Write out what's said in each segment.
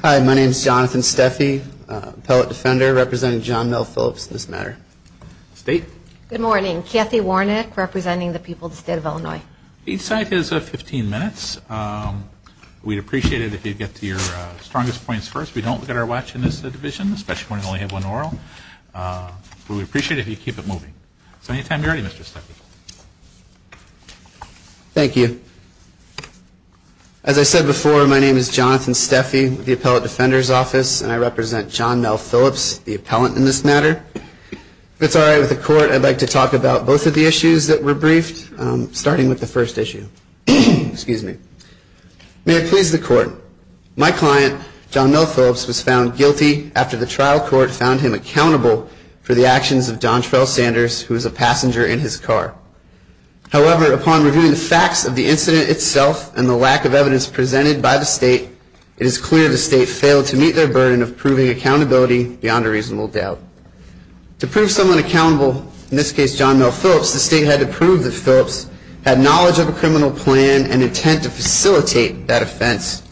Hi, my name is Jonathan Steffi, Appellate Defender representing John Mel Phillips in this matter. Good morning, Kathy Warnick representing the people of the state of Illinois. Each side has 15 minutes. We'd appreciate it if you'd get to your strongest points first. We don't get our watch in this division, especially when we only have one oral. But we'd appreciate it if you'd keep it moving. So anytime you're ready, Mr. Steffi. Thank you. As I said before, my name is Jonathan Steffi with the Appellate Defender's Office, and I represent John Mel Phillips, the appellant in this matter. If it's all right with the court, I'd like to talk about both of the issues that were briefed, starting with the first issue. Excuse me. May it please the court. My client, John Mel Phillips, was found guilty after the trial court found him accountable for the actions of Don Trell Sanders, who was a passenger in his car. However, upon reviewing the facts of the incident itself and the lack of evidence presented by the state, it is clear the state failed to meet their burden of proving accountability beyond a reasonable doubt. To prove someone accountable, in this case John Mel Phillips, the state had to prove that Phillips had knowledge of a criminal plan and intent to facilitate that offense.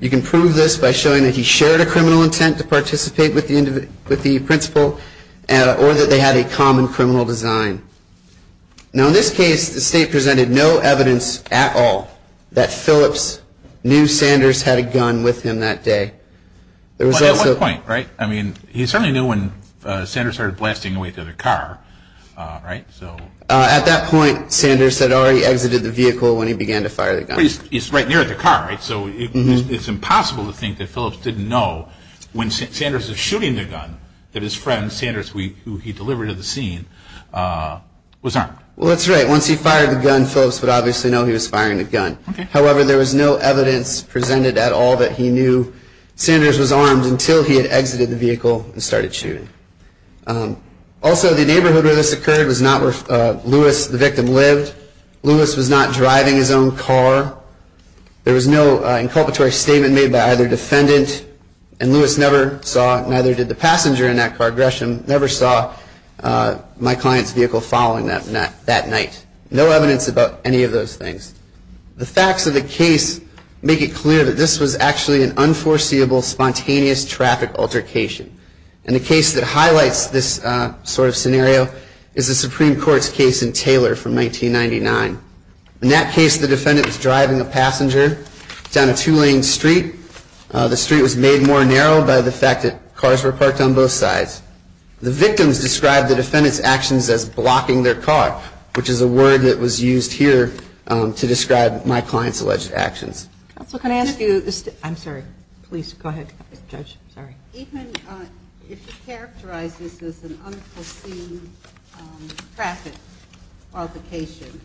You can prove this by showing that he shared a criminal intent to participate with the principal or that they had a common criminal design. Now, in this case, the state presented no evidence at all that Phillips knew Sanders had a gun with him that day. At one point, right? I mean, he certainly knew when Sanders started blasting away to the car, right? At that point, Sanders had already exited the vehicle when he began to fire the gun. He's right near the car, right? So it's impossible to think that Phillips didn't know when Sanders was shooting the gun that his friend Sanders, who he delivered to the scene, was armed. Well, that's right. Once he fired the gun, Phillips would obviously know he was firing the gun. However, there was no evidence presented at all that he knew Sanders was armed until he had exited the vehicle and started shooting. Also, the neighborhood where this occurred was not where Lewis, the victim, lived. Lewis was not driving his own car. There was no inculpatory statement made by either defendant. And Lewis never saw, neither did the passenger in that car, Gresham, never saw my client's vehicle following that night. No evidence about any of those things. The facts of the case make it clear that this was actually an unforeseeable, spontaneous traffic altercation. And the case that highlights this sort of scenario is the Supreme Court's case in Taylor from 1999. In that case, the defendant was driving a passenger down a two-lane street. The street was made more narrow by the fact that cars were parked on both sides. The victims described the defendant's actions as blocking their car, which is a word that was used here to describe my client's alleged actions. Counsel, can I ask you this? I'm sorry. Please go ahead, Judge. Sorry. Even if you characterize this as an unforeseen traffic altercation,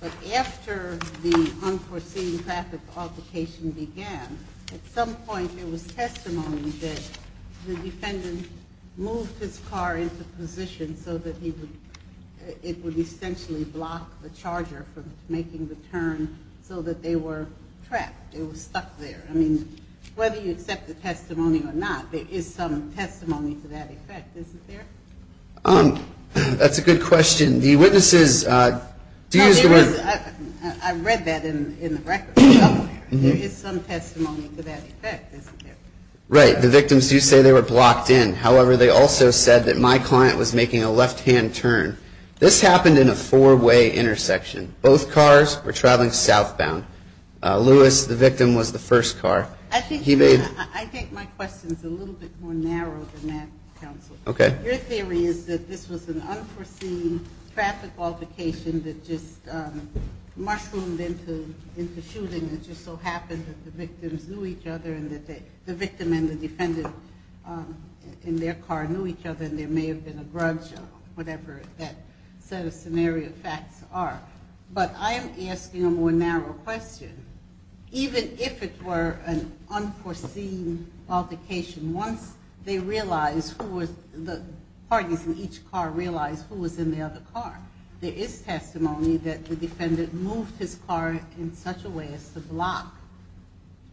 but after the unforeseen traffic altercation began, at some point there was testimony that the defendant moved his car into position so that it would essentially block the charger from making the turn so that they were trapped, they were stuck there. I mean, whether you accept the testimony or not, there is some testimony to that effect, isn't there? That's a good question. The witnesses do use the word... I read that in the record somewhere. There is some testimony to that effect, isn't there? Right. The victims do say they were blocked in. However, they also said that my client was making a left-hand turn. This happened in a four-way intersection. Both cars were traveling southbound. Lewis, the victim, was the first car. I think my question is a little bit more narrow than that, Counsel. Okay. Your theory is that this was an unforeseen traffic altercation that just mushroomed into shooting and just so happened that the victims knew each other and that the victim and the defendant in their car knew each other and there may have been a grudge or whatever that set of scenario facts are. But I am asking a more narrow question. Even if it were an unforeseen altercation, once they realized who was... the parties in each car realized who was in the other car, there is testimony that the defendant moved his car in such a way as to block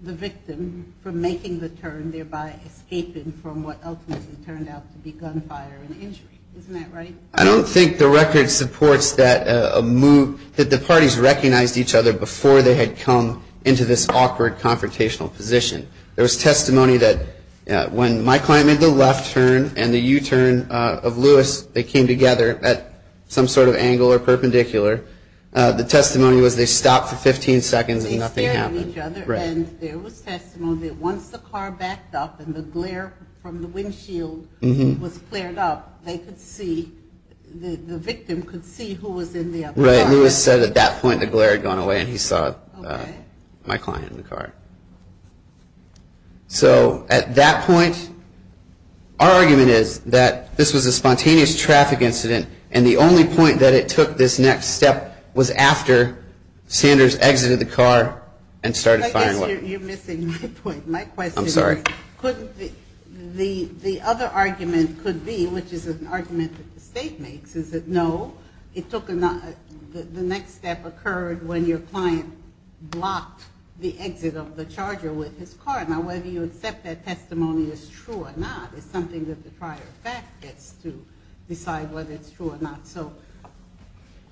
the victim from making the turn, thereby escaping from what ultimately turned out to be gunfire and injury. Isn't that right? I don't think the record supports that the parties recognized each other before they had come into this awkward, confrontational position. There was testimony that when my client made the left turn and the U-turn of Lewis, they came together at some sort of angle or perpendicular. The testimony was they stopped for 15 seconds and nothing happened. They stared at each other. Right. And there was testimony that once the car backed up and the glare from the windshield was cleared up, they could see, the victim could see who was in the other car. Right. Lewis said at that point the glare had gone away and he saw my client in the car. So at that point, our argument is that this was a spontaneous traffic incident and the only point that it took this next step was after Sanders exited the car and started firing weapons. I guess you're missing the point. My question is couldn't the other argument could be, which is an argument that the State makes, is that no, it took the next step occurred when your client blocked the exit of the charger with his car. Now, whether you accept that testimony is true or not is something that the prior fact gets to decide whether it's true or not. So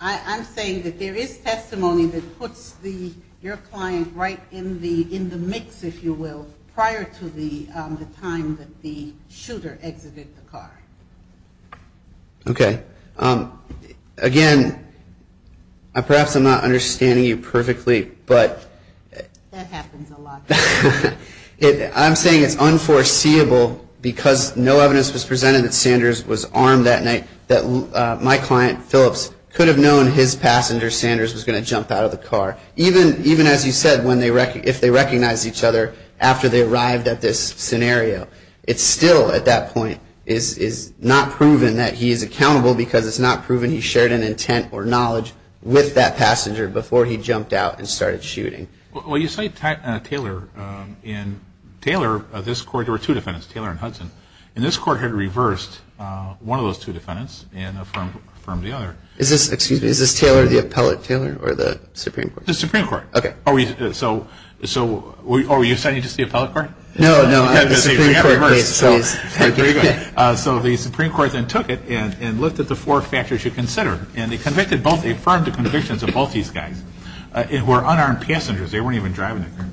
I'm saying that there is testimony that puts your client right in the mix, if you will, prior to the time that the shooter exited the car. Okay. Again, perhaps I'm not understanding you perfectly. That happens a lot. I'm saying it's unforeseeable because no evidence was presented that Sanders was armed that night, that my client, Phillips, could have known his passenger, Sanders, was going to jump out of the car, even as you said, if they recognized each other after they arrived at this scenario. It still, at that point, is not proven that he is accountable because it's not proven he shared an intent or knowledge with that passenger before he jumped out and started shooting. Well, you cite Taylor, and Taylor, this court, there were two defendants, Taylor and Hudson, and this court had reversed one of those two defendants and affirmed the other. Excuse me, is this Taylor, the appellate Taylor, or the Supreme Court? The Supreme Court. Okay. So are you citing just the appellate court? No, no, I'm the Supreme Court case. Very good. So the Supreme Court then took it and lifted the four factors you considered, and they affirmed the convictions of both these guys who were unarmed passengers. They weren't even driving the car.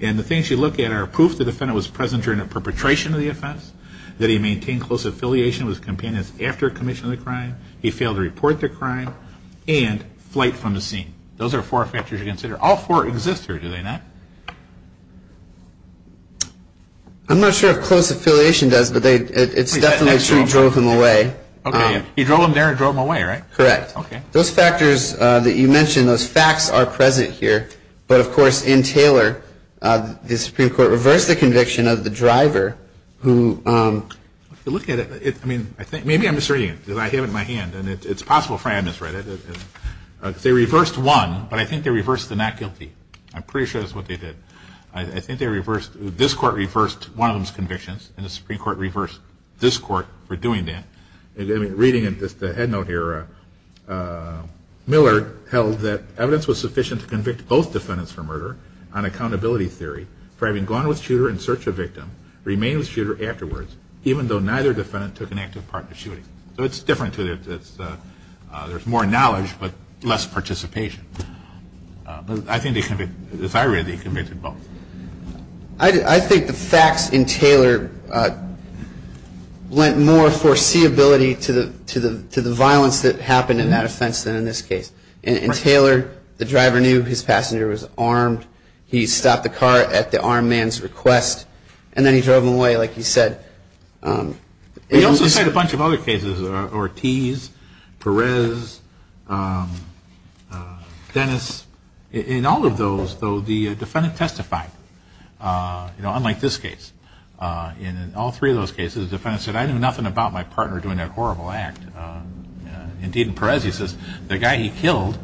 And the things you look at are proof the defendant was present during the perpetration of the offense, that he maintained close affiliation with his companions after commissioning the crime, he failed to report the crime, and flight from the scene. Those are four factors you consider. All four exist here, do they not? I'm not sure if close affiliation does, but it's definitely true he drove them away. Okay. He drove them there and drove them away, right? Correct. Okay. Those factors that you mentioned, those facts are present here, but, of course, in Taylor, the Supreme Court reversed the conviction of the driver who... If you look at it, I mean, maybe I'm misreading it because I have it in my hand, and it's possible for me I misread it. They reversed one, but I think they reversed the not guilty. I'm pretty sure that's what they did. I think they reversed, this court reversed one of those convictions, and the Supreme Court reversed this court for doing that. Reading the head note here, Miller held that evidence was sufficient to convict both defendants for murder on accountability theory for having gone with shooter in search of victim, remained with shooter afterwards, even though neither defendant took an active part in the shooting. So it's different. There's more knowledge, but less participation. I think they convicted, as I read, they convicted both. I think the facts in Taylor lent more foreseeability to the violence that happened in that offense than in this case. In Taylor, the driver knew his passenger was armed. He stopped the car at the armed man's request, and then he drove away, like you said... They also cite a bunch of other cases, Ortiz, Perez, Dennis. In all of those, though, the defendant testified, unlike this case. In all three of those cases, the defendant said, I knew nothing about my partner doing that horrible act. Indeed, in Perez, he says, the guy he killed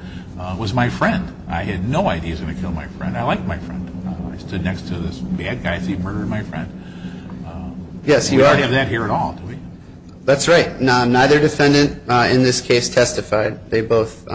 was my friend. I had no idea he was going to kill my friend. I liked my friend. I stood next to this bad guy, so he murdered my friend. We don't have that here at all, do we? That's right. Neither defendant in this case testified. They both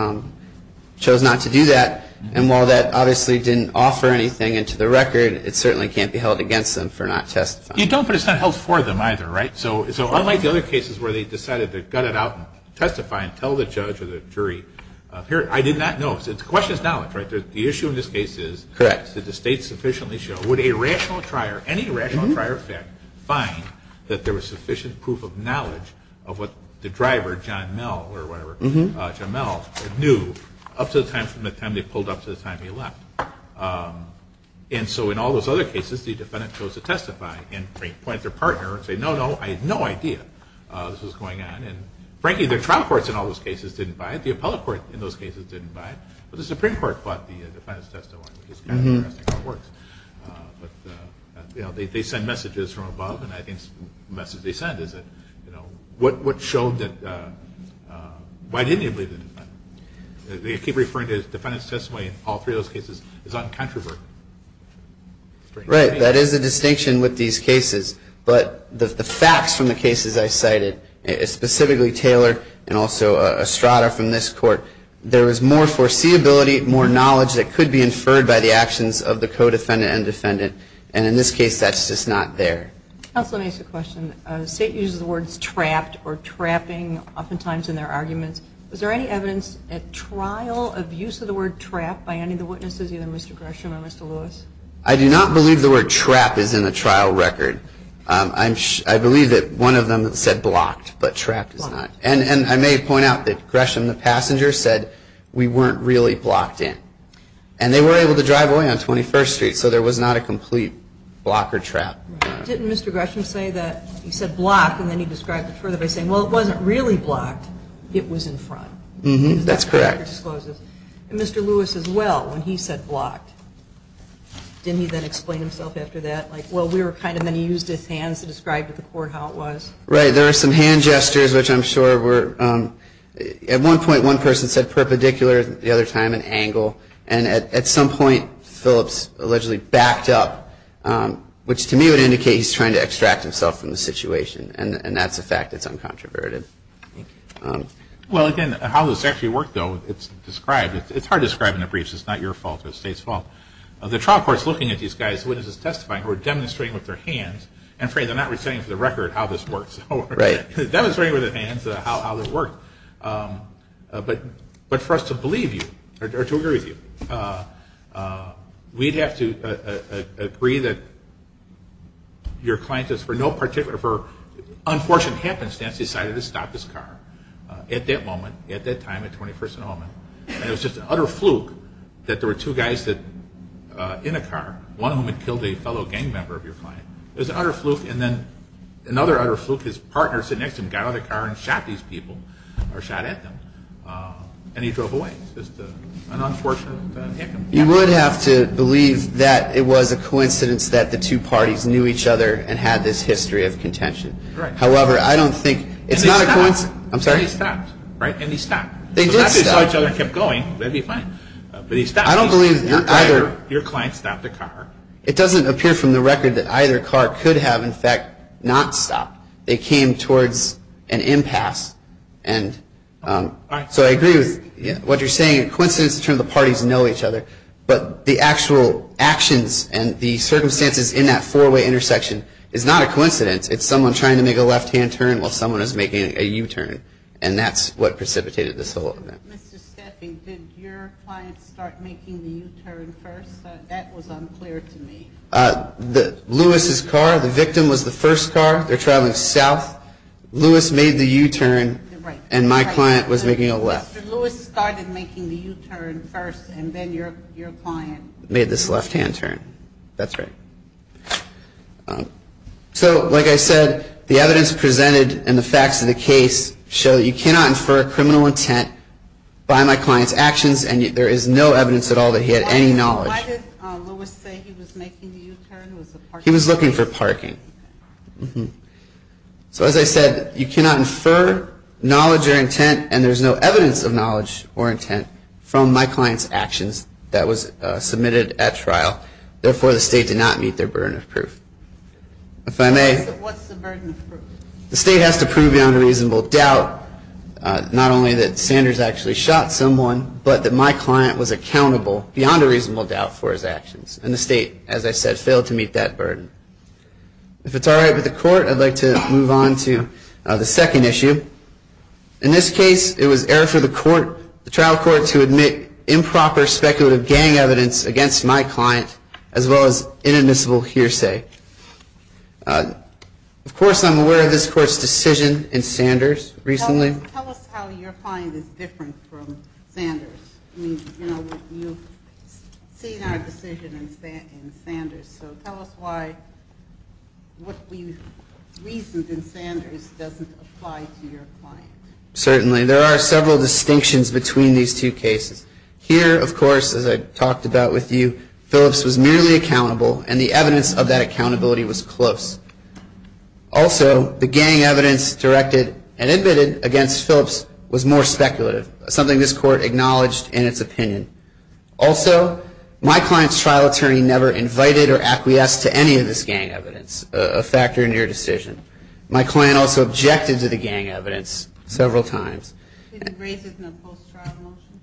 chose not to do that, and while that obviously didn't offer anything into the record, it certainly can't be held against them for not testifying. You don't, but it's not held for them either, right? So unlike the other cases where they decided to gut it out and testify and tell the judge or the jury, I did not know. The question is knowledge, right? The issue in this case is did the state sufficiently show, would a rational trier, any rational trier of fact, find that there was sufficient proof of knowledge of what the driver, John Mell, or whatever, John Mell, knew up to the time they pulled up to the time he left? And so in all those other cases, the defendant chose to testify and point at their partner and say, no, no, I had no idea this was going on. And frankly, the trial courts in all those cases didn't buy it. The appellate court in those cases didn't buy it, but the Supreme Court bought the defendant's testimony, which is kind of interesting how it works. But they send messages from above, and I think the message they send is that, you know, what showed that, why didn't he believe the defendant? They keep referring to the defendant's testimony in all three of those cases as uncontroversial. Right. That is the distinction with these cases. But the facts from the cases I cited, specifically Taylor and also Estrada from this court, there was more foreseeability, more knowledge that could be inferred by the actions of the co-defendant and defendant, and in this case that's just not there. Counsel, let me ask you a question. The state uses the words trapped or trapping oftentimes in their arguments. Was there any evidence at trial of use of the word trap by any of the witnesses, either Mr. Gresham or Mr. Lewis? I do not believe the word trap is in the trial record. I believe that one of them said blocked, but trapped is not. And I may point out that Gresham, the passenger, said we weren't really blocked in. And they were able to drive away on 21st Street, so there was not a complete block or trap. Didn't Mr. Gresham say that he said blocked and then he described it further by saying, well, it wasn't really blocked, it was in front? That's correct. And Mr. Lewis as well, when he said blocked, didn't he then explain himself after that? Like, well, we were kind of, then he used his hands to describe to the court how it was? Right. There were some hand gestures, which I'm sure were, at one point one person said perpendicular, the other time an angle, and at some point Phillips allegedly backed up, which to me would indicate he's trying to extract himself from the situation, and that's a fact that's uncontroverted. Well, again, how this actually worked, though, it's described. It's hard to describe in the briefs. It's not your fault. It's the state's fault. The trial court's looking at these guys, witnesses testifying, who are demonstrating with their hands. I'm afraid they're not saying for the record how this works. Right. Demonstrating with their hands how it worked. But for us to believe you, or to agree with you, we'd have to agree that your client has for no particular, for unfortunate happenstance decided to stop his car at that moment, at that time, at 21st and Omen, and it was just an utter fluke that there were two guys in a car, one of whom had killed a fellow gang member of your client. It was an utter fluke, and then another utter fluke, his partner sitting next to him got out of the car and shot these people, or shot at them, and he drove away. It's just an unfortunate incident. You would have to believe that it was a coincidence that the two parties knew each other and had this history of contention. Right. However, I don't think it's not a coincidence. And they stopped. I'm sorry? And they stopped, right? And they stopped. They did stop. As long as they saw each other and kept going, they'd be fine. But he stopped. I don't believe either. Your client stopped the car. It doesn't appear from the record that either car could have, in fact, not stopped. They came towards an impasse. And so I agree with what you're saying, a coincidence in terms of the parties know each other, but the actual actions and the circumstances in that four-way intersection is not a coincidence. It's someone trying to make a left-hand turn while someone is making a U-turn, and that's what precipitated this whole event. Mr. Steffing, did your client start making the U-turn first? That was unclear to me. Lewis's car, the victim, was the first car. They're traveling south. Lewis made the U-turn, and my client was making a left. Lewis started making the U-turn first, and then your client made this left-hand turn. That's right. So, like I said, the evidence presented and the facts of the case show that you cannot infer criminal intent by my client's actions, and there is no evidence at all that he had any knowledge. Why did Lewis say he was making the U-turn? He was looking for parking. So, as I said, you cannot infer knowledge or intent, and there's no evidence of knowledge or intent from my client's actions that was submitted at trial. Therefore, the State did not meet their burden of proof. If I may? What's the burden of proof? The State has to prove the unreasonable doubt, not only that Sanders actually shot someone, but that my client was accountable beyond a reasonable doubt for his actions, and the State, as I said, failed to meet that burden. If it's all right with the Court, I'd like to move on to the second issue. In this case, it was error for the trial court to admit improper speculative gang evidence against my client, as well as inadmissible hearsay. Of course, I'm aware of this Court's decision in Sanders recently. Tell us how your client is different from Sanders. I mean, you know, you've seen our decision in Sanders, so tell us why what we've reasoned in Sanders doesn't apply to your client. Certainly. There are several distinctions between these two cases. Here, of course, as I talked about with you, Phillips was merely accountable, and the evidence of that accountability was close. Also, the gang evidence directed and admitted against Phillips was more speculative, something this Court acknowledged in its opinion. Also, my client's trial attorney never invited or acquiesced to any of this gang evidence, a factor in your decision. My client also objected to the gang evidence several times. Did he raise it in the post-trial motion?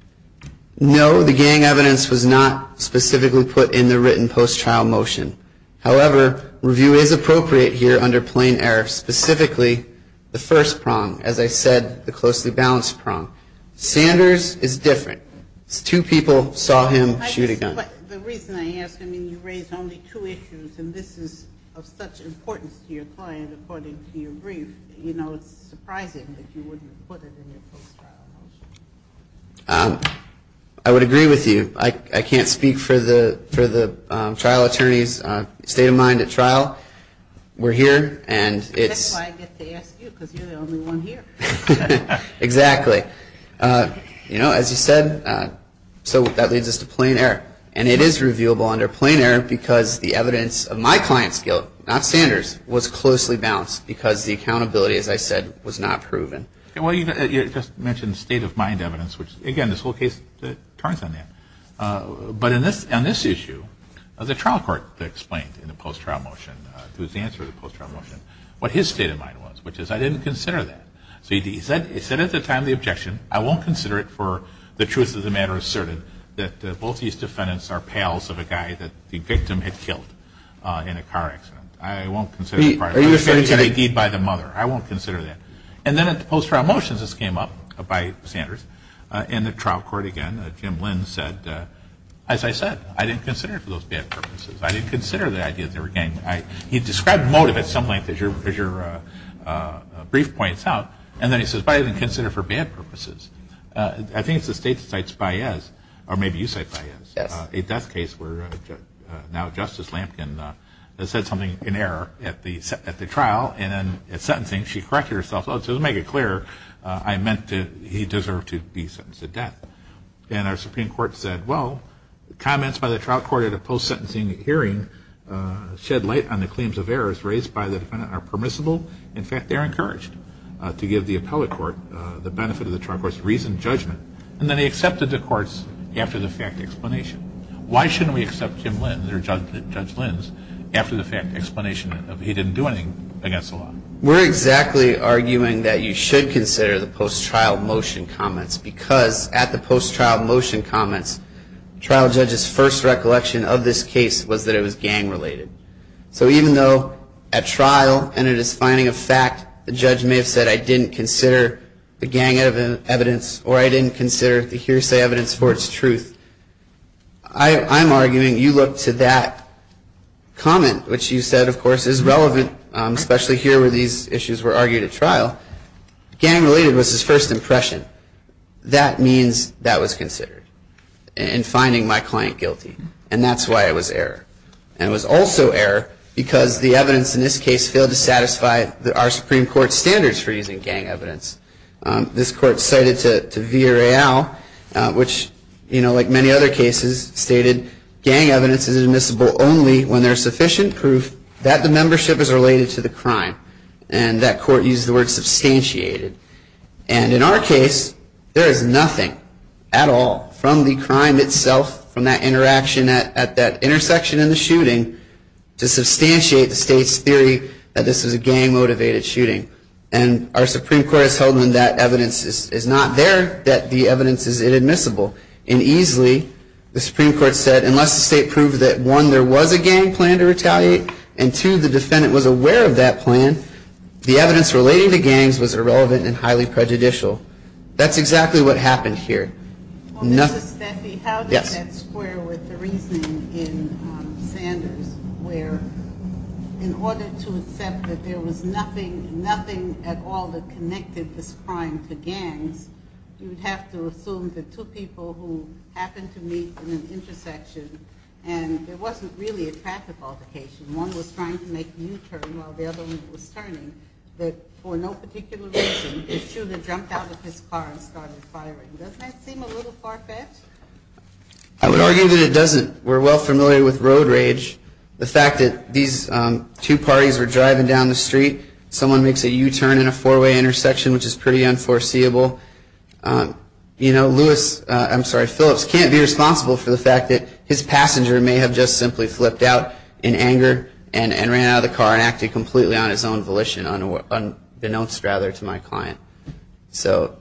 No, the gang evidence was not specifically put in the written post-trial motion. However, review is appropriate here under plain error, specifically the first prong, as I said, the closely balanced prong. Sanders is different. Two people saw him shoot a gun. But the reason I ask, I mean, you raised only two issues, and this is of such importance to your client according to your brief, you know, it's surprising that you wouldn't have put it in your post-trial motion. I would agree with you. I can't speak for the trial attorney's state of mind at trial. We're here, and it's – That's why I get to ask you because you're the only one here. Exactly. You know, as you said, so that leads us to plain error. And it is reviewable under plain error because the evidence of my client's guilt, not Sanders', was closely balanced because the accountability, as I said, was not proven. Well, you just mentioned state of mind evidence, which, again, this whole case turns on that. But on this issue, the trial court explained in the post-trial motion, through its answer to the post-trial motion, what his state of mind was, which is I didn't consider that. So he said at the time the objection, I won't consider it for the truth of the matter asserted that both these defendants are pals of a guy that the victim had killed in a car accident. I won't consider it a crime. Are you a fair attorney? It's a great deed by the mother. I won't consider that. And then at the post-trial motions, this came up by Sanders, and the trial court again, Jim Lynn, said, as I said, I didn't consider it for those bad purposes. I didn't consider the idea that they were gang – he described motive at some length, as your brief points out, and then he says, but I didn't consider it for bad purposes. I think it's the state that cites Baez, or maybe you cite Baez, a death case where now Justice Lampkin said something in error at the trial, and then at sentencing she corrected herself, oh, just to make it clear, I meant that he deserved to be sentenced to death. And our Supreme Court said, well, comments by the trial court at a post-sentencing hearing shed light on the claims of errors raised by the defendant are permissible. In fact, they're encouraged to give the appellate court the benefit of the trial court's reasoned judgment. And then they accepted the court's after-the-fact explanation. Why shouldn't we accept Jim Lynn, or Judge Lynn's, after-the-fact explanation of he didn't do anything against the law? We're exactly arguing that you should consider the post-trial motion comments because at the post-trial motion comments, trial judges' first recollection of this case was that it was gang-related. So even though at trial, and it is finding a fact, the judge may have said I didn't consider the gang evidence, or I didn't consider the hearsay evidence for its truth, I'm arguing you look to that comment, which you said, of course, is relevant, especially here where these issues were argued at trial. Gang-related was his first impression. That means that was considered in finding my client guilty, and that's why it was error. And it was also error because the evidence in this case failed to satisfy our Supreme Court standards for using gang evidence. This court cited to Villareal, which, you know, like many other cases, stated gang evidence is admissible only when there is sufficient proof that the membership is related to the crime. And that court used the word substantiated. And in our case, there is nothing at all from the crime itself, from that interaction at that intersection in the shooting, to substantiate the state's theory that this is a gang-motivated shooting. And our Supreme Court has held them that evidence is not there, that the evidence is inadmissible. And easily, the Supreme Court said unless the state proved that, one, there was a gang plan to retaliate, and, two, the defendant was aware of that plan, the evidence relating to gangs was irrelevant and highly prejudicial. That's exactly what happened here. Well, Justice Steffi, how does that square with the reasoning in Sanders where in order to accept that there was nothing, nothing at all that connected this crime to gangs, you would have to assume that two people who happened to meet in an intersection and there wasn't really a traffic altercation, one was trying to make U-turn while the other one was turning, that for no particular reason, the shooter jumped out of his car and started firing. Doesn't that seem a little far-fetched? I would argue that it doesn't. We're well familiar with road rage. The fact that these two parties were driving down the street, someone makes a U-turn in a four-way intersection, which is pretty unforeseeable. You know, Lewis, I'm sorry, Phillips, can't be responsible for the fact that his passenger may have just simply flipped out in anger and ran out of the car and acted completely on his own volition, unbeknownst rather to my client. So,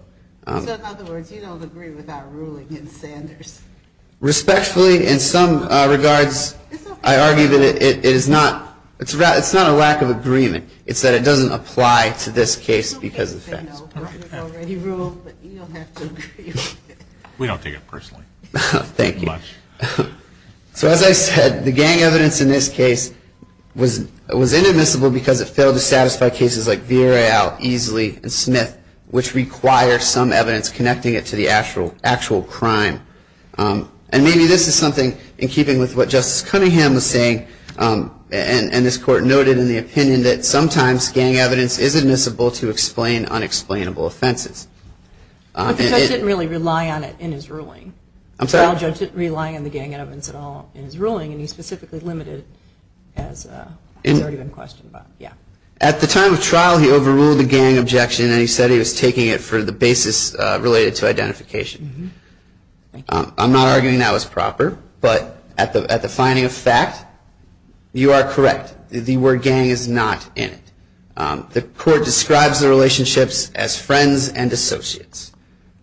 in other words, you don't agree with our ruling in Sanders? Respectfully, in some regards, I argue that it is not a lack of agreement. It's that it doesn't apply to this case because of facts. Okay, then, no. You've already ruled, but you don't have to agree with it. We don't take it personally. Thank you. So as I said, the gang evidence in this case was inadmissible because it failed to satisfy cases like Villarreal, Easley, and Smith, which require some evidence connecting it to the actual crime. And maybe this is something, in keeping with what Justice Cunningham was saying, and this Court noted in the opinion, that sometimes gang evidence is admissible to explain unexplainable offenses. But the judge didn't really rely on it in his ruling. I'm sorry? At the time of trial, he overruled the gang objection and he said he was taking it for the basis related to identification. I'm not arguing that was proper. But at the finding of fact, you are correct. The word gang is not in it. The Court describes the relationships as friends and associates.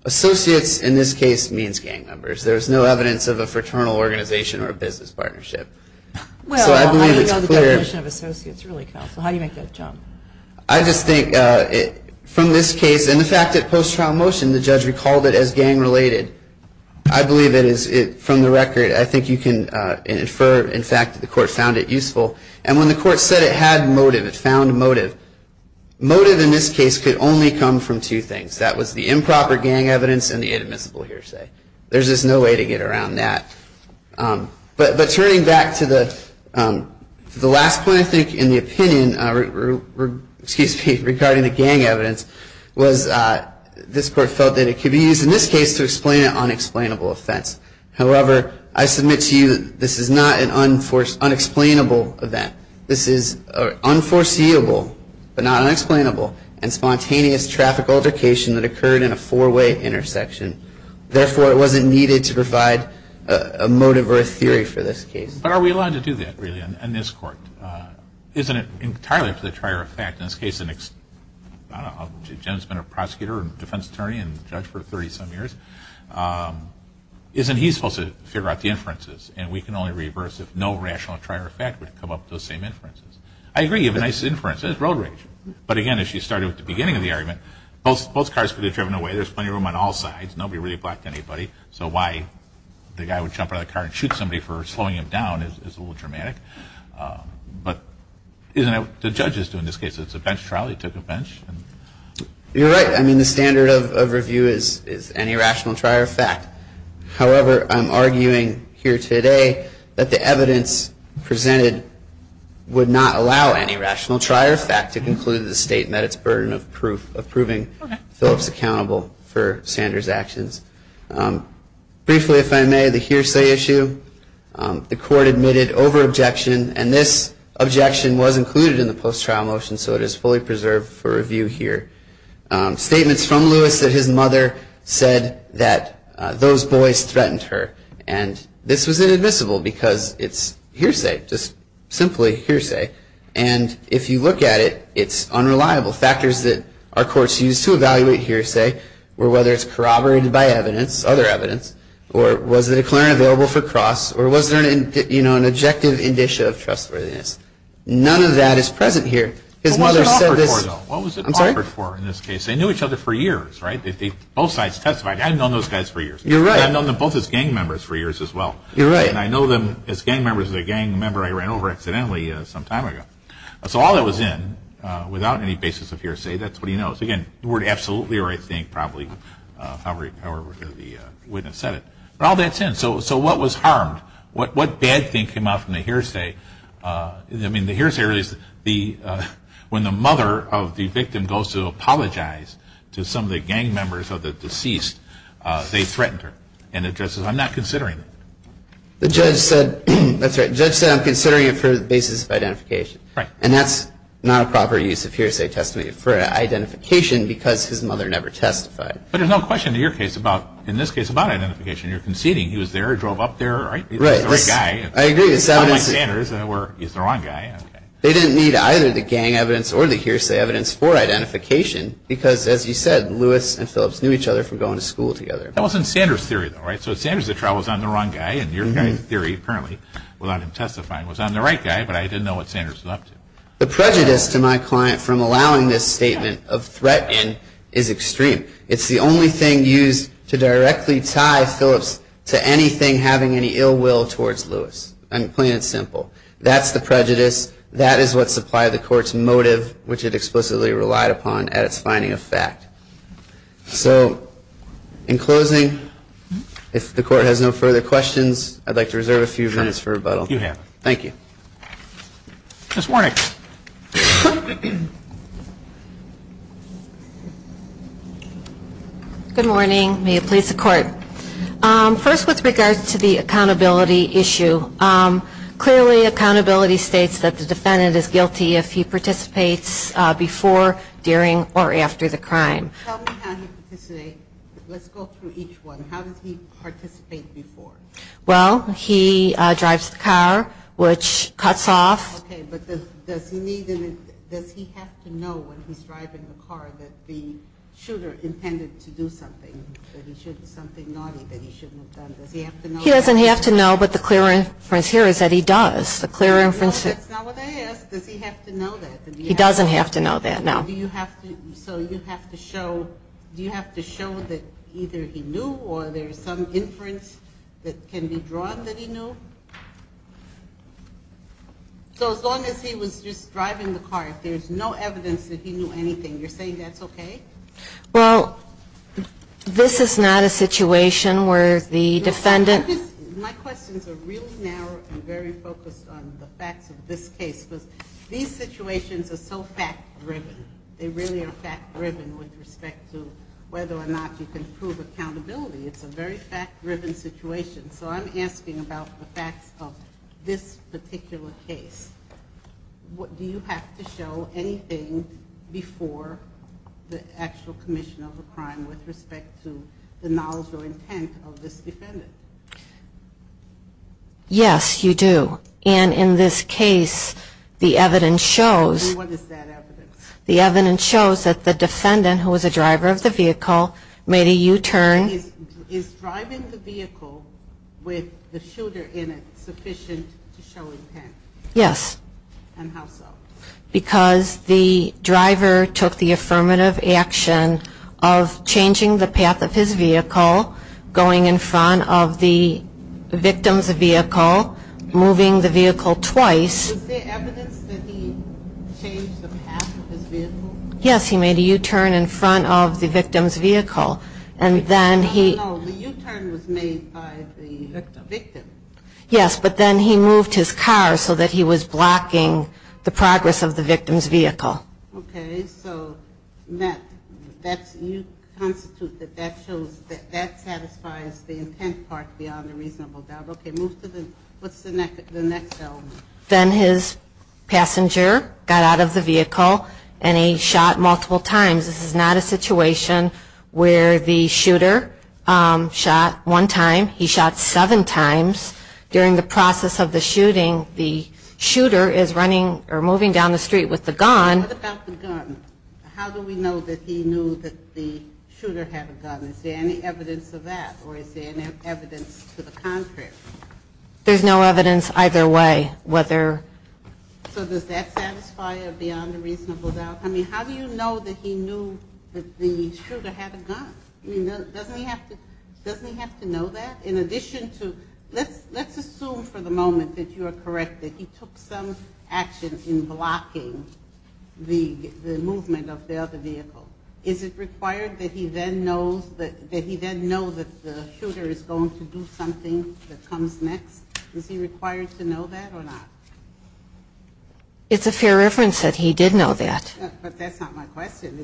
Associates, in this case, means gang members. There is no evidence of a fraternal organization or a business partnership. So I believe it's clear. Well, how do you know the definition of associates really counts? How do you make that jump? I just think, from this case, and the fact that post-trial motion, the judge recalled it as gang related. I believe it is, from the record, I think you can infer, in fact, that the Court found it useful. And when the Court said it had motive, it found motive, motive in this case could only come from two things. That was the improper gang evidence and the inadmissible hearsay. There's just no way to get around that. But turning back to the last point, I think, in the opinion regarding the gang evidence, was this Court felt that it could be used in this case to explain an unexplainable offense. However, I submit to you that this is not an unexplainable event. This is an unforeseeable, but not unexplainable, and spontaneous traffic altercation that occurred in a four-way intersection. Therefore, it wasn't needed to provide a motive or a theory for this case. But are we allowed to do that, really, in this Court? Isn't it entirely up to the trier of fact? In this case, the next, I don't know, Jim's been a prosecutor and defense attorney and judge for 30-some years. Isn't he supposed to figure out the inferences? And we can only reverse if no rational trier of fact would come up with the same inferences. I agree, you have a nice inference. It's road rage. But, again, as she started at the beginning of the argument, both cars could have been driven away. There's plenty of room on all sides. Nobody really blacked anybody. So why the guy would jump out of the car and shoot somebody for slowing him down is a little dramatic. But isn't it what the judges do in this case? It's a bench trial. He took a bench. You're right. I mean, the standard of review is any rational trier of fact. However, I'm arguing here today that the evidence presented would not allow any rational trier of fact to conclude the statement at its burden of proving Phillips accountable for Sanders' actions. Briefly, if I may, the hearsay issue. The court admitted over-objection, and this objection was included in the post-trial motion, so it is fully preserved for review here. Statements from Lewis that his mother said that those boys threatened her. And this was inadmissible because it's hearsay, just simply hearsay. And if you look at it, it's unreliable. Factors that our courts use to evaluate hearsay were whether it's corroborated by evidence, other evidence, or was the declarant available for cross, or was there an objective indicia of trustworthiness. None of that is present here. His mother said this. What was it offered for, though? I'm sorry? What was it offered for in this case? They knew each other for years, right? Both sides testified. I've known those guys for years. You're right. I've known them both as gang members for years as well. You're right. And I know them as gang members as a gang member I ran over accidentally some time ago. So all that was in without any basis of hearsay. That's what he knows. Again, the word absolutely or I think probably however the witness said it. But all that's in. So what was harmed? What bad thing came out from the hearsay? I mean, the hearsay really is when the mother of the victim goes to apologize to some of the gang members of the deceased, they threatened her. And the judge says, I'm not considering it. The judge said, that's right, the judge said I'm considering it for the basis of identification. Right. And that's not a proper use of hearsay testimony for identification because his mother never testified. But there's no question in your case about, in this case, about identification. You're conceding he was there, drove up there, right? Right. He's the right guy. I agree. He's the right guy. They didn't need either the gang evidence or the hearsay evidence for identification because, as you said, Lewis and Phillips knew each other from going to school together. That wasn't Sanders' theory, though, right? So Sanders' trial was on the wrong guy, and your guy's theory, apparently, without him testifying, was on the right guy, but I didn't know what Sanders was up to. The prejudice to my client from allowing this statement of threat in is extreme. It's the only thing used to directly tie Phillips to anything having any ill will towards Lewis. I'm playing it simple. That's the prejudice. That is what supplied the court's motive, which it explicitly relied upon at its finding of fact. So in closing, if the court has no further questions, I'd like to reserve a few minutes for rebuttal. You have. Thank you. Ms. Warnick. Good morning. May it please the court. First, with regard to the accountability issue, clearly accountability states that the defendant is guilty if he participates before, during, or after the crime. Tell me how he participates. Let's go through each one. How does he participate before? Well, he drives the car, which cuts off. Okay, but does he have to know when he's driving the car that the shooter intended to do something, something naughty that he shouldn't have done? Does he have to know that? He doesn't have to know, but the clear inference here is that he does. The clear inference. No, that's not what I asked. Does he have to know that? He doesn't have to know that, no. Do you have to show that either he knew or there's some inference that can be drawn that he knew? So as long as he was just driving the car, if there's no evidence that he knew anything, you're saying that's okay? Well, this is not a situation where the defendant ---- My questions are really narrow and very focused on the facts of this case, because these situations are so fact-driven. They really are fact-driven with respect to whether or not you can prove accountability. It's a very fact-driven situation. So I'm asking about the facts of this particular case. Do you have to show anything before the actual commission of the crime with respect to the knowledge or intent of this defendant? Yes, you do. And in this case, the evidence shows ---- What is that evidence? The evidence shows that the defendant, who was a driver of the vehicle, made a U-turn ---- Is driving the vehicle with the shooter in it sufficient to show intent? Yes. And how so? Because the driver took the affirmative action of changing the path of his vehicle, going in front of the victim's vehicle, moving the vehicle twice. Was there evidence that he changed the path of his vehicle? Yes, he made a U-turn in front of the victim's vehicle, and then he ---- No, no, no, the U-turn was made by the victim. Yes, but then he moved his car so that he was blocking the progress of the victim's vehicle. Okay, so you constitute that that satisfies the intent part beyond a reasonable doubt. Okay, move to the next element. Then his passenger got out of the vehicle, and he shot multiple times. This is not a situation where the shooter shot one time. He shot seven times. During the process of the shooting, the shooter is running or moving down the street with the gun. What about the gun? How do we know that he knew that the shooter had a gun? Is there any evidence of that, or is there any evidence to the contrary? There's no evidence either way whether ---- So does that satisfy beyond a reasonable doubt? I mean, how do you know that he knew that the shooter had a gun? I mean, doesn't he have to know that? In addition to ---- let's assume for the moment that you are correct, that he took some action in blocking the movement of the other vehicle. Is it required that he then know that the shooter is going to do something that comes next? Is he required to know that or not? It's a fair reference that he did know that. But that's not my question.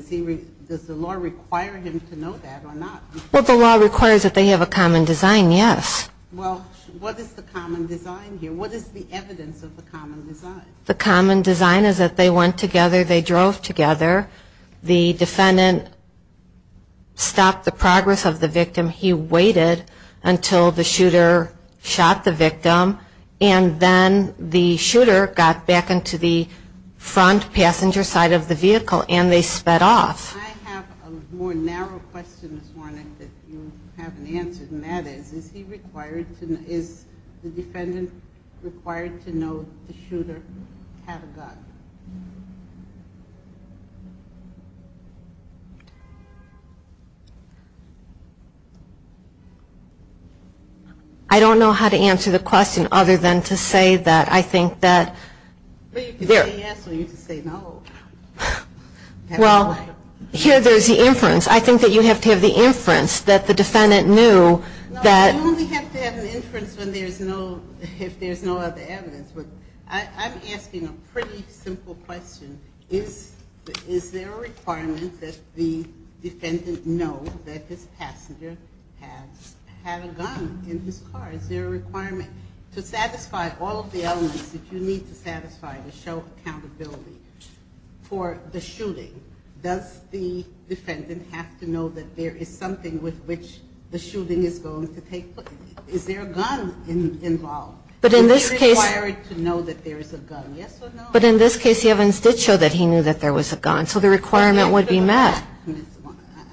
Does the law require him to know that or not? Well, the law requires that they have a common design, yes. Well, what is the common design here? What is the evidence of the common design? The common design is that they went together, they drove together. The defendant stopped the progress of the victim. He waited until the shooter shot the victim, and then the shooter got back into the front passenger side of the vehicle, and they sped off. I have a more narrow question this morning that you haven't answered, and that is, is he required to know, is the defendant required to know that the shooter had a gun? I don't know how to answer the question other than to say that I think that... Well, you could say yes or you could say no. Well, here there's the inference. I think that you have to have the inference that the defendant knew that... No, you only have to have an inference if there's no other evidence. I'm asking a pretty simple question. Is there a requirement that the defendant know that his passenger had a gun in his car? Is there a requirement to satisfy all of the elements that you need to satisfy to show accountability for the shooting? Does the defendant have to know that there is something with which the shooting is going to take place? Is there a gun involved? But in this case... Is he required to know that there is a gun? Yes or no? But in this case, Evans did show that he knew that there was a gun, so the requirement would be met.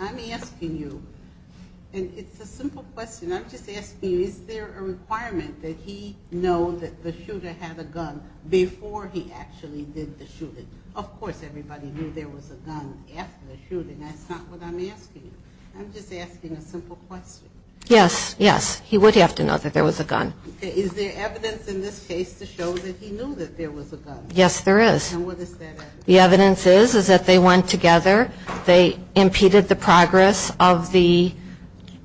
I'm asking you, and it's a simple question, I'm just asking you, is there a requirement that he know that the shooter had a gun before he actually did the shooting? Of course everybody knew there was a gun after the shooting. That's not what I'm asking you. I'm just asking a simple question. Yes, yes, he would have to know that there was a gun. Okay, is there evidence in this case to show that he knew that there was a gun? Yes, there is. And what is that evidence? The evidence is that they went together, they impeded the progress of the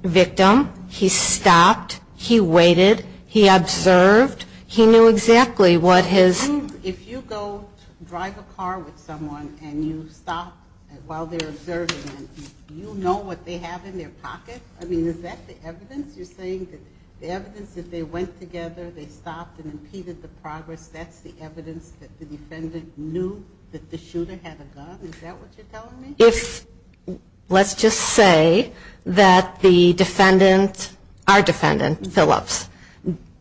victim, he stopped, he waited, he observed, he knew exactly what his... If you go drive a car with someone and you stop while they're observing them, do you know what they have in their pocket? I mean, is that the evidence? The evidence you're saying, the evidence that they went together, they stopped and impeded the progress, that's the evidence that the defendant knew that the shooter had a gun? Is that what you're telling me? If, let's just say, that the defendant, our defendant, Phillips,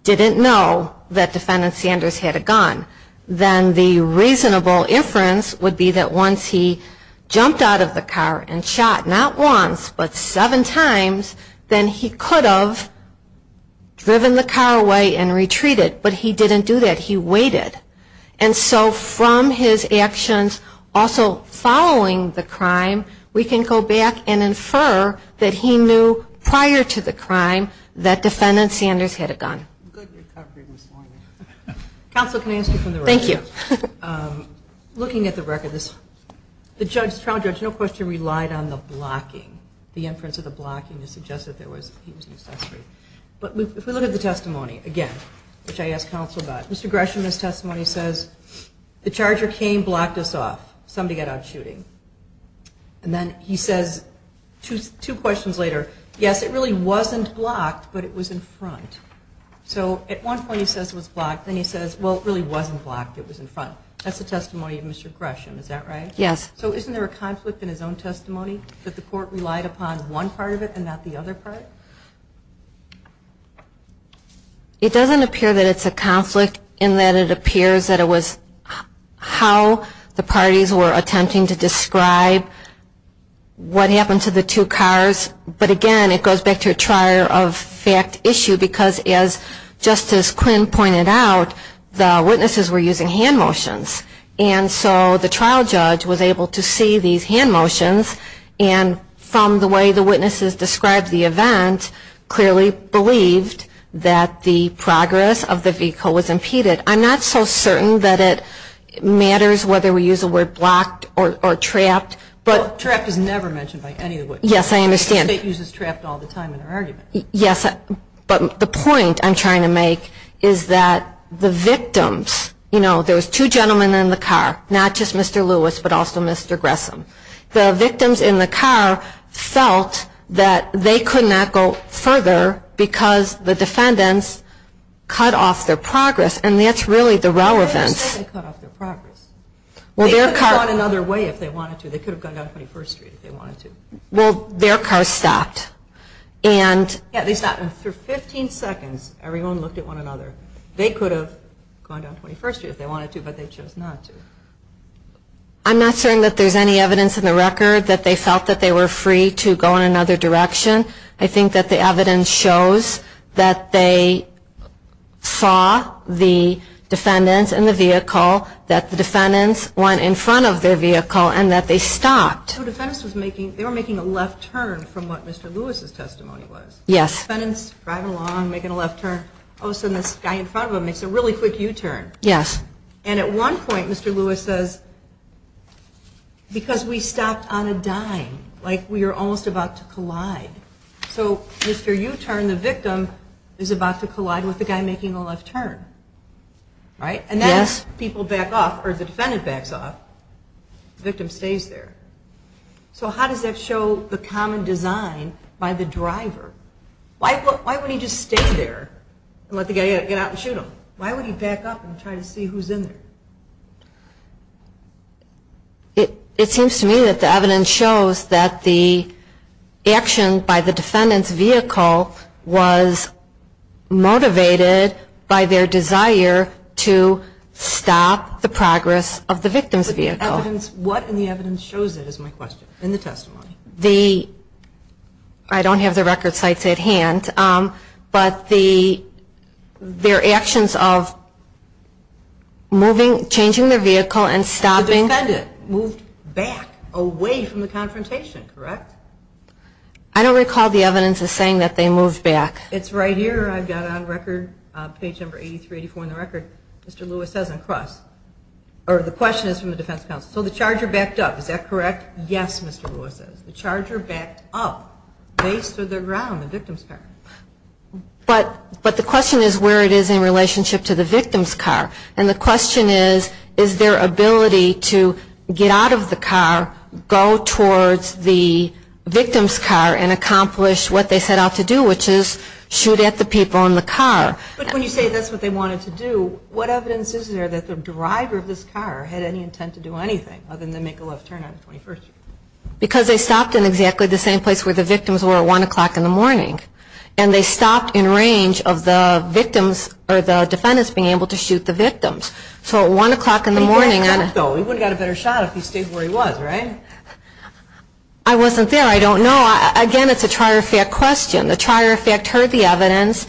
didn't know that defendant Sanders had a gun, then the reasonable inference would be that once he jumped out of the car and shot, not once, but seven times, then he could have driven the car away and retreated. But he didn't do that. He waited. And so from his actions, also following the crime, we can go back and infer that he knew prior to the crime that defendant Sanders had a gun. Good recovery this morning. Counsel, can I ask you from the record? Thank you. Looking at the record, the trial judge no question relied on the blocking, the inference of the blocking to suggest that he was an accessory. But if we look at the testimony, again, which I asked counsel about, Mr. Gresham in his testimony says, the charger came, blocked us off, somebody got out shooting. And then he says two questions later, yes, it really wasn't blocked, but it was in front. So at one point he says it was blocked, then he says, well, it really wasn't blocked, it was in front. That's the testimony of Mr. Gresham, is that right? Yes. So isn't there a conflict in his own testimony that the court relied upon one part of it and not the other part? It doesn't appear that it's a conflict in that it appears that it was how the parties were attempting to describe what happened to the two cars. But, again, it goes back to a trier of fact issue because as Justice Quinn pointed out, the witnesses were using hand motions. And so the trial judge was able to see these hand motions and from the way the witnesses described the event, clearly believed that the progress of the vehicle was impeded. I'm not so certain that it matters whether we use the word blocked or trapped. Trapped is never mentioned by any of the witnesses. Yes, I understand. The State uses trapped all the time in our arguments. Yes, but the point I'm trying to make is that the victims, you know, there was two gentlemen in the car, not just Mr. Lewis but also Mr. Gresham. The victims in the car felt that they could not go further because the defendants cut off their progress, and that's really the relevance. They didn't say they cut off their progress. They could have gone another way if they wanted to. They could have gone down 21st Street if they wanted to. Well, their car stopped. Yeah, they stopped. After 15 seconds, everyone looked at one another. They could have gone down 21st Street if they wanted to, but they chose not to. I'm not certain that there's any evidence in the record that they felt that they were free to go in another direction. I think that the evidence shows that they saw the defendants in the vehicle, that the defendants went in front of their vehicle, and that they stopped. The defendants were making a left turn from what Mr. Lewis' testimony was. Yes. The defendants are driving along, making a left turn. All of a sudden, this guy in front of them makes a really quick U-turn. Yes. And at one point, Mr. Lewis says, because we stopped on a dime, like we were almost about to collide. So Mr. U-turn, the victim, is about to collide with the guy making a left turn. Right? Yes. Once the defendant backs off, the victim stays there. So how does that show the common design by the driver? Why would he just stay there and let the guy get out and shoot him? Why would he back up and try to see who's in there? It seems to me that the evidence shows that the action by the defendant's vehicle was motivated by their desire to stop the progress of the victim's vehicle. What in the evidence shows that, is my question, in the testimony? I don't have the record sites at hand, but their actions of moving, changing their vehicle and stopping. The defendant moved back, away from the confrontation, correct? I don't recall the evidence as saying that they moved back. It's right here. I've got it on record, page number 8384 on the record. Mr. Lewis says, across. Or the question is from the defense counsel. So the charger backed up. Is that correct? Yes, Mr. Lewis says. The charger backed up, based on the ground, the victim's car. But the question is where it is in relationship to the victim's car. And the question is, is their ability to get out of the car, go towards the victim's car and accomplish what they set out to do, which is shoot at the people in the car. But when you say that's what they wanted to do, what evidence is there that the driver of this car had any intent to do anything other than make a left turn on the 21st? Because they stopped in exactly the same place where the victims were at 1 o'clock in the morning. And they stopped in range of the victims, or the defendants being able to shoot the victims. So at 1 o'clock in the morning. He did stop, though. He would have got a better shot if he stayed where he was, right? I wasn't there. I don't know. Again, it's a trier of fact question. The trier of fact heard the evidence.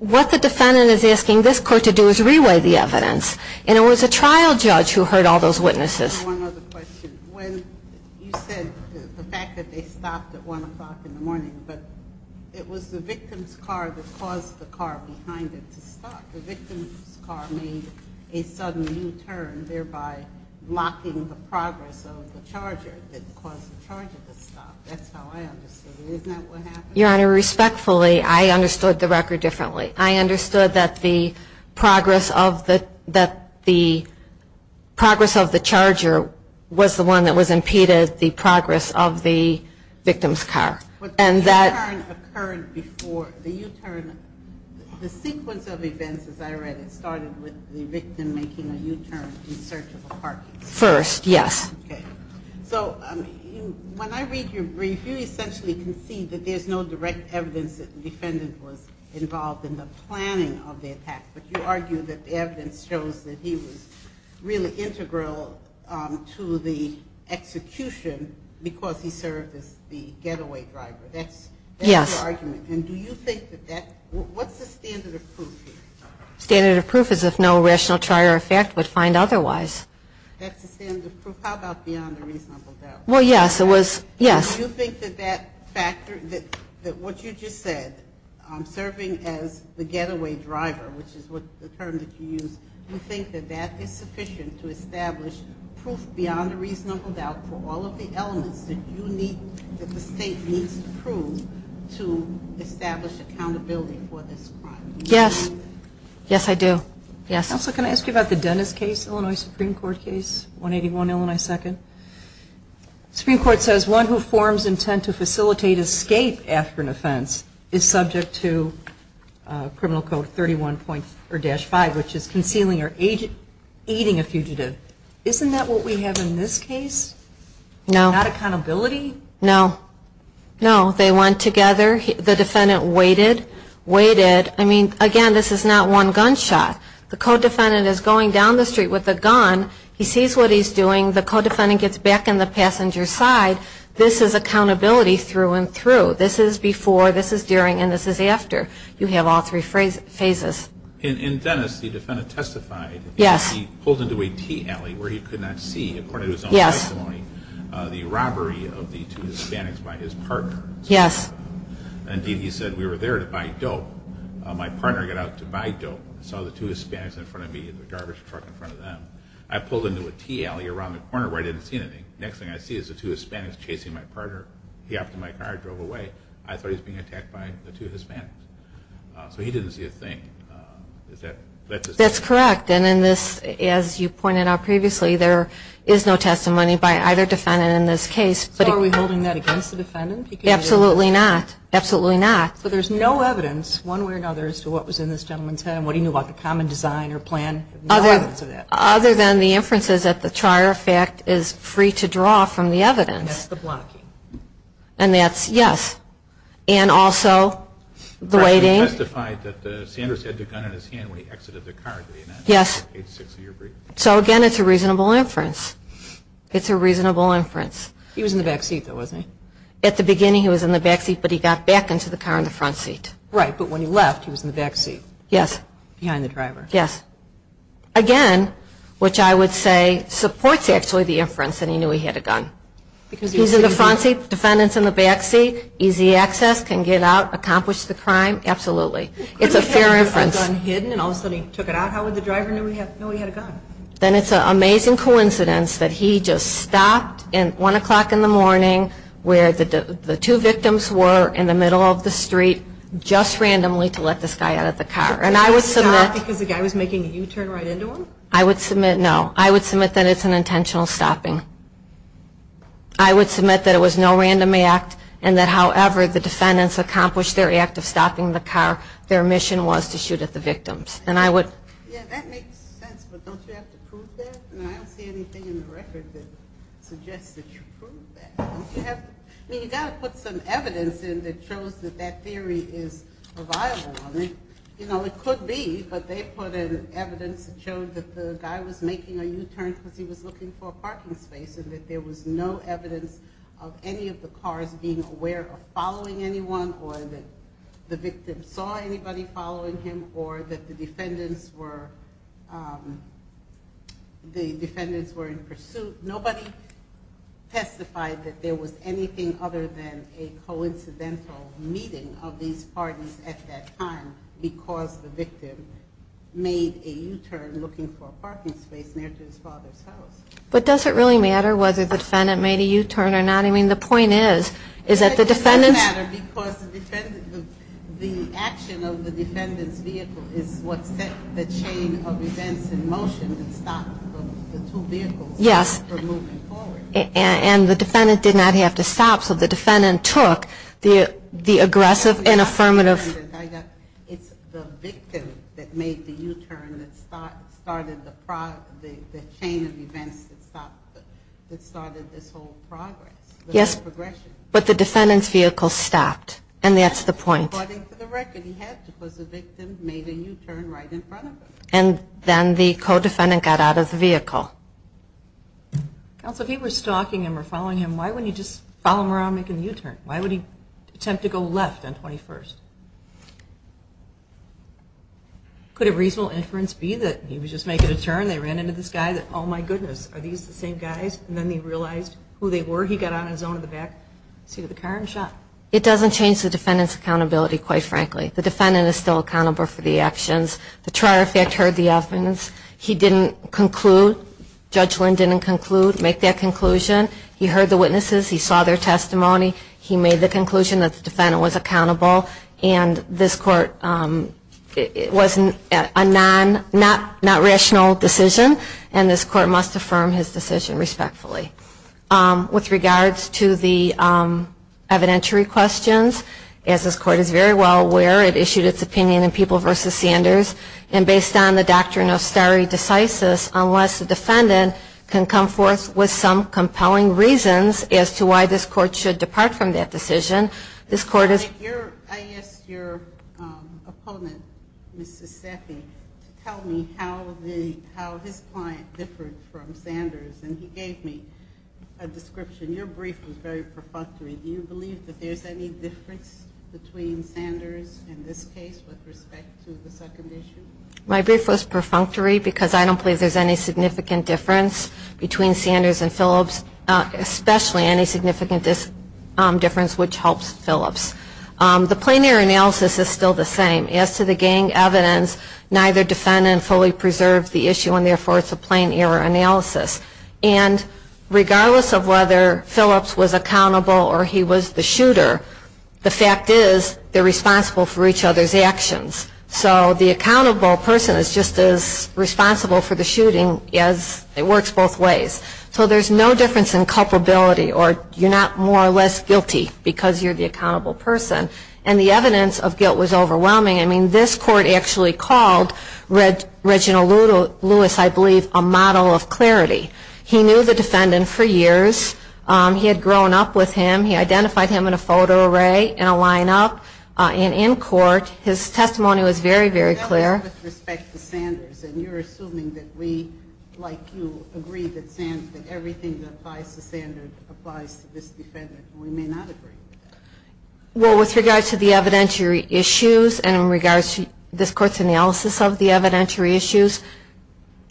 What the defendant is asking this court to do is reweigh the evidence. And it was a trial judge who heard all those witnesses. One other question. When you said the fact that they stopped at 1 o'clock in the morning, but it was the victim's car that caused the car behind it to stop. The victim's car made a sudden U-turn, thereby blocking the progress of the charger that caused the charger to stop. That's how I understood it. Isn't that what happened? Your Honor, respectfully, I understood the record differently. I understood that the progress of the charger was the one that was impeded, the progress of the victim's car. But the U-turn occurred before the U-turn. The sequence of events, as I read it, started with the victim making a U-turn in search of a parking space. First, yes. Okay. So when I read your brief, you essentially concede that there's no direct evidence that the defendant was involved in the planning of the attack. But you argue that the evidence shows that he was really integral to the That's your argument. Yes. And do you think that that ñ what's the standard of proof here? Standard of proof is if no rational trier effect would find otherwise. That's the standard of proof. How about beyond a reasonable doubt? Well, yes, it was ñ yes. Do you think that that factor, that what you just said, serving as the getaway driver, which is the term that you used, do you think that that is sufficient to establish proof beyond a reasonable doubt for all of the elements that you need, that the state needs to prove to establish accountability for this crime? Yes. Yes, I do. Yes. Counsel, can I ask you about the Dennis case, Illinois Supreme Court case, 181 Illinois 2nd? The Supreme Court says one who forms intent to facilitate escape after an offense is subject to Criminal Code 31-5, which is concealing or aiding a fugitive. Isn't that what we have in this case? No. Not accountability? No. No. They went together. The defendant waited, waited. I mean, again, this is not one gunshot. The co-defendant is going down the street with a gun. He sees what he's doing. The co-defendant gets back in the passenger's side. This is accountability through and through. This is before, this is during, and this is after. You have all three phases. In Dennis, the defendant testified. Yes. He pulled into a tea alley where he could not see, according to his own testimony, the robbery of the two Hispanics by his partner. Yes. Indeed, he said, we were there to buy dope. My partner got out to buy dope, saw the two Hispanics in front of me in the garbage truck in front of them. I pulled into a tea alley around the corner where I didn't see anything. Next thing I see is the two Hispanics chasing my partner. He hopped in my car and drove away. I thought he was being attacked by the two Hispanics. So he didn't see a thing. That's his testimony. Correct. And in this, as you pointed out previously, there is no testimony by either defendant in this case. So are we holding that against the defendant? Absolutely not. Absolutely not. So there's no evidence one way or another as to what was in this gentleman's head and what he knew about the common design or plan? No evidence of that. Other than the inferences that the Trier effect is free to draw from the evidence. And that's the blocking. And that's, yes. And also the waiting. He testified that Sanders had the gun in his hand when he exited the car. Yes. So again, it's a reasonable inference. It's a reasonable inference. He was in the back seat, though, wasn't he? At the beginning he was in the back seat, but he got back into the car in the front seat. Right. But when he left, he was in the back seat. Yes. Behind the driver. Yes. Again, which I would say supports actually the inference that he knew he had a gun. He's in the front seat, defendant's in the back seat, easy access, can get out, accomplish the crime. Absolutely. It's a fair inference. Couldn't he have a gun hidden and all of a sudden he took it out? How would the driver know he had a gun? Then it's an amazing coincidence that he just stopped at 1 o'clock in the morning where the two victims were in the middle of the street just randomly to let this guy out of the car. And I would submit. Because the guy was making a U-turn right into him? I would submit, no. I would submit that it's an intentional stopping. I would submit that it was no random act and that, however, the driver accomplished their act of stopping the car, their mission was to shoot at the victims. And I would. Yeah, that makes sense. But don't you have to prove that? And I don't see anything in the record that suggests that you prove that. I mean, you've got to put some evidence in that shows that that theory is reliable. I mean, you know, it could be, but they put in evidence that showed that the guy was making a U-turn because he was looking for a parking space and that there was no evidence of any of the cars being aware of following anyone or that the victim saw anybody following him or that the defendants were in pursuit. Nobody testified that there was anything other than a coincidental meeting of these parties at that time because the victim made a U-turn looking for a parking space near to his father's house. But does it really matter whether the defendant made a U-turn or not? I mean, the point is, is that the defendants. It doesn't matter because the action of the defendant's vehicle is what set the chain of events in motion that stopped the two vehicles from moving forward. And the defendant did not have to stop, so the defendant took the aggressive and affirmative. It's the victim that made the U-turn that started the chain of events that started this whole progress. But the defendant's vehicle stopped, and that's the point. According to the record, he had to because the victim made a U-turn right in front of him. And then the co-defendant got out of the vehicle. Counsel, if he was stalking him or following him, why wouldn't he just follow him around making a U-turn? Why would he attempt to go left on 21st? Could a reasonable inference be that he was just making a turn, they ran into the same guys, and then he realized who they were, he got on his own in the back seat of the car and shot? It doesn't change the defendant's accountability, quite frankly. The defendant is still accountable for the actions. The trier of fact heard the evidence. He didn't conclude. Judge Lynn didn't conclude, make that conclusion. He heard the witnesses. He saw their testimony. He made the conclusion that the defendant was accountable. And this court was a non-rational decision, and this court must affirm his decision respectfully. With regards to the evidentiary questions, as this court is very well aware, it issued its opinion in People v. Sanders. And based on the doctrine of stare decisis, unless the defendant can come forth with some compelling reasons as to why this court should depart from that decision, this court is. I asked your opponent, Ms. Sasseffi, to tell me how his client differed from Sanders, and he gave me a description. Your brief was very perfunctory. Do you believe that there's any difference between Sanders in this case with respect to the second issue? My brief was perfunctory because I don't believe there's any significant difference between Sanders and Phillips, especially any significant difference which helps Phillips. The plain error analysis is still the same. As to the gang evidence, neither defendant fully preserved the issue, and therefore it's a plain error analysis. And regardless of whether Phillips was accountable or he was the shooter, the fact is they're responsible for each other's actions. So the accountable person is just as responsible for the shooting as it works both ways. So there's no difference in culpability, or you're not more or less guilty because you're the accountable person. And the evidence of guilt was overwhelming. I mean, this court actually called Reginald Lewis, I believe, a model of clarity. He knew the defendant for years. He had grown up with him. He identified him in a photo array, in a lineup, and in court. His testimony was very, very clear. With respect to Sanders, and you're assuming that we, like you, agree that everything that applies to Sanders applies to this defendant. We may not agree with that. Well, with regards to the evidentiary issues and in regards to this court's analysis of the evidentiary issues,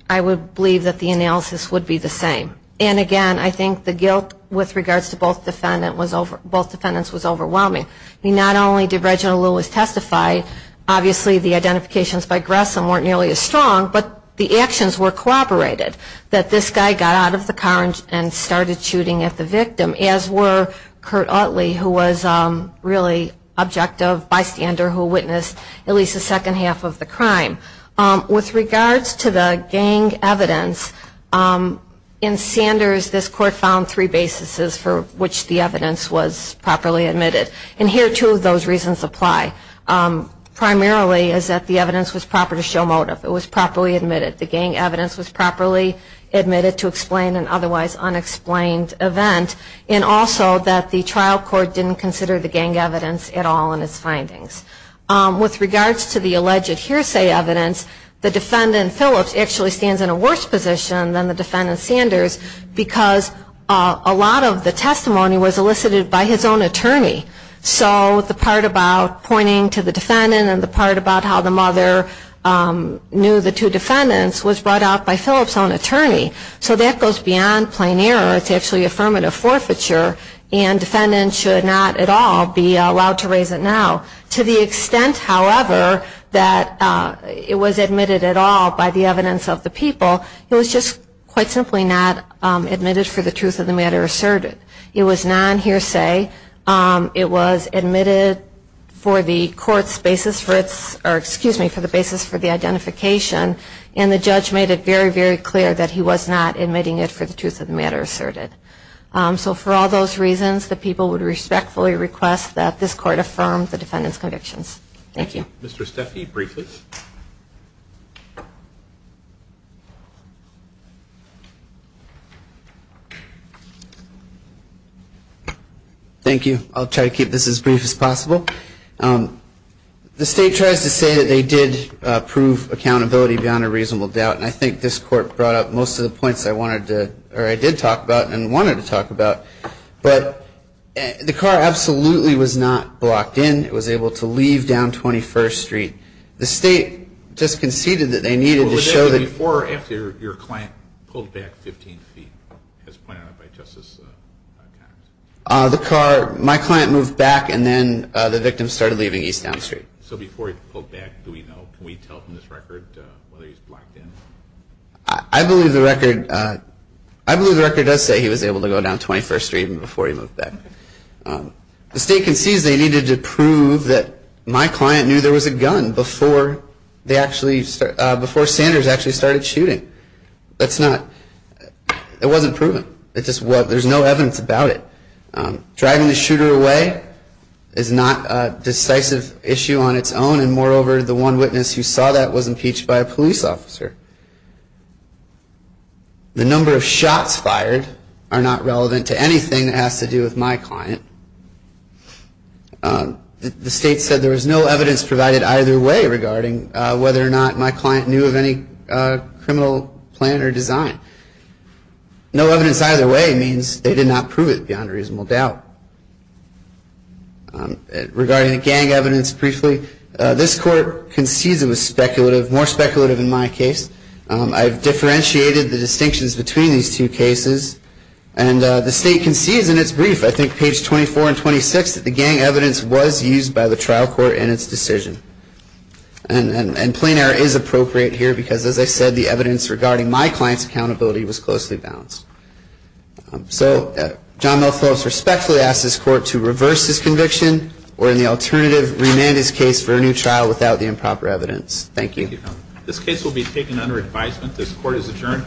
I would believe that the analysis would be the same. And, again, I think the guilt with regards to both defendants was overwhelming. I mean, not only did Reginald Lewis testify, obviously the identifications by Gressom weren't nearly as strong, but the actions were corroborated, that this guy got out of the car and started shooting at the victim, as were Curt Utley, who was really objective, bystander, who witnessed at least the second half of the crime. With regards to the gang evidence, in Sanders, this court found three basis for which the evidence was properly admitted. And here, two of those reasons apply. Primarily is that the evidence was proper to show motive. It was properly admitted. The gang evidence was properly admitted to explain an otherwise unexplained event, and also that the trial court didn't consider the gang evidence at all in its findings. With regards to the alleged hearsay evidence, the defendant, Phillips, actually stands in a worse position than the defendant, Sanders, because a lot of the testimony was elicited by his own attorney. So the part about pointing to the defendant, and the part about how the mother knew the two defendants, was brought out by Phillips' own attorney. So that goes beyond plain error. It's actually affirmative forfeiture, and defendants should not at all be allowed to raise it now. To the extent, however, that it was admitted at all by the evidence of the people, it was just quite simply not admitted for the truth of the matter asserted. It was non-hearsay. It was admitted for the court's basis for its, or excuse me, for the basis for the identification, and the judge made it very, very clear that he was not admitting it for the truth of the matter asserted. So for all those reasons, the people would respectfully request that this court affirm the defendant's convictions. Thank you. Mr. Steffi, briefly. Thank you. I'll try to keep this as brief as possible. The state tries to say that they did prove accountability beyond a reasonable doubt, and I think this court brought up most of the points I wanted to, or I did talk about and wanted to talk about. But the car absolutely was not blocked in. It was able to leave down 21st Street. The state just conceded that they needed to show that. Before or after your client pulled back 15 feet, as pointed out by Justice Connors? The car, my client moved back, and then the victim started leaving East Down Street. So before he pulled back, do we know, can we tell from this record whether he's blocked in? I believe the record, I believe the record does say he was able to go down 21st Street even before he moved back. The state concedes they needed to prove that my client knew there was a gun before they actually, before Sanders actually started shooting. That's not, it wasn't proven. It just wasn't, there's no evidence about it. Driving the shooter away is not a decisive issue on its own, and moreover, the one witness who saw that was impeached by a police officer. The number of shots fired are not relevant to anything that has to do with my client. The state said there was no evidence provided either way regarding whether or not my client knew of any criminal plan or design. No evidence either way means they did not prove it beyond reasonable doubt. Regarding the gang evidence briefly, this court concedes it was speculative, I've differentiated the distinctions between these two cases, and the state concedes in its brief, I think page 24 and 26, that the gang evidence was used by the trial court in its decision. And plain error is appropriate here because, as I said, the evidence regarding my client's accountability was closely balanced. So John Mel Phillips respectfully asks this court to reverse this conviction or in the alternative, remand his case for a new trial without the improper evidence. Thank you. This case will be taken under advisement. This court is adjourned.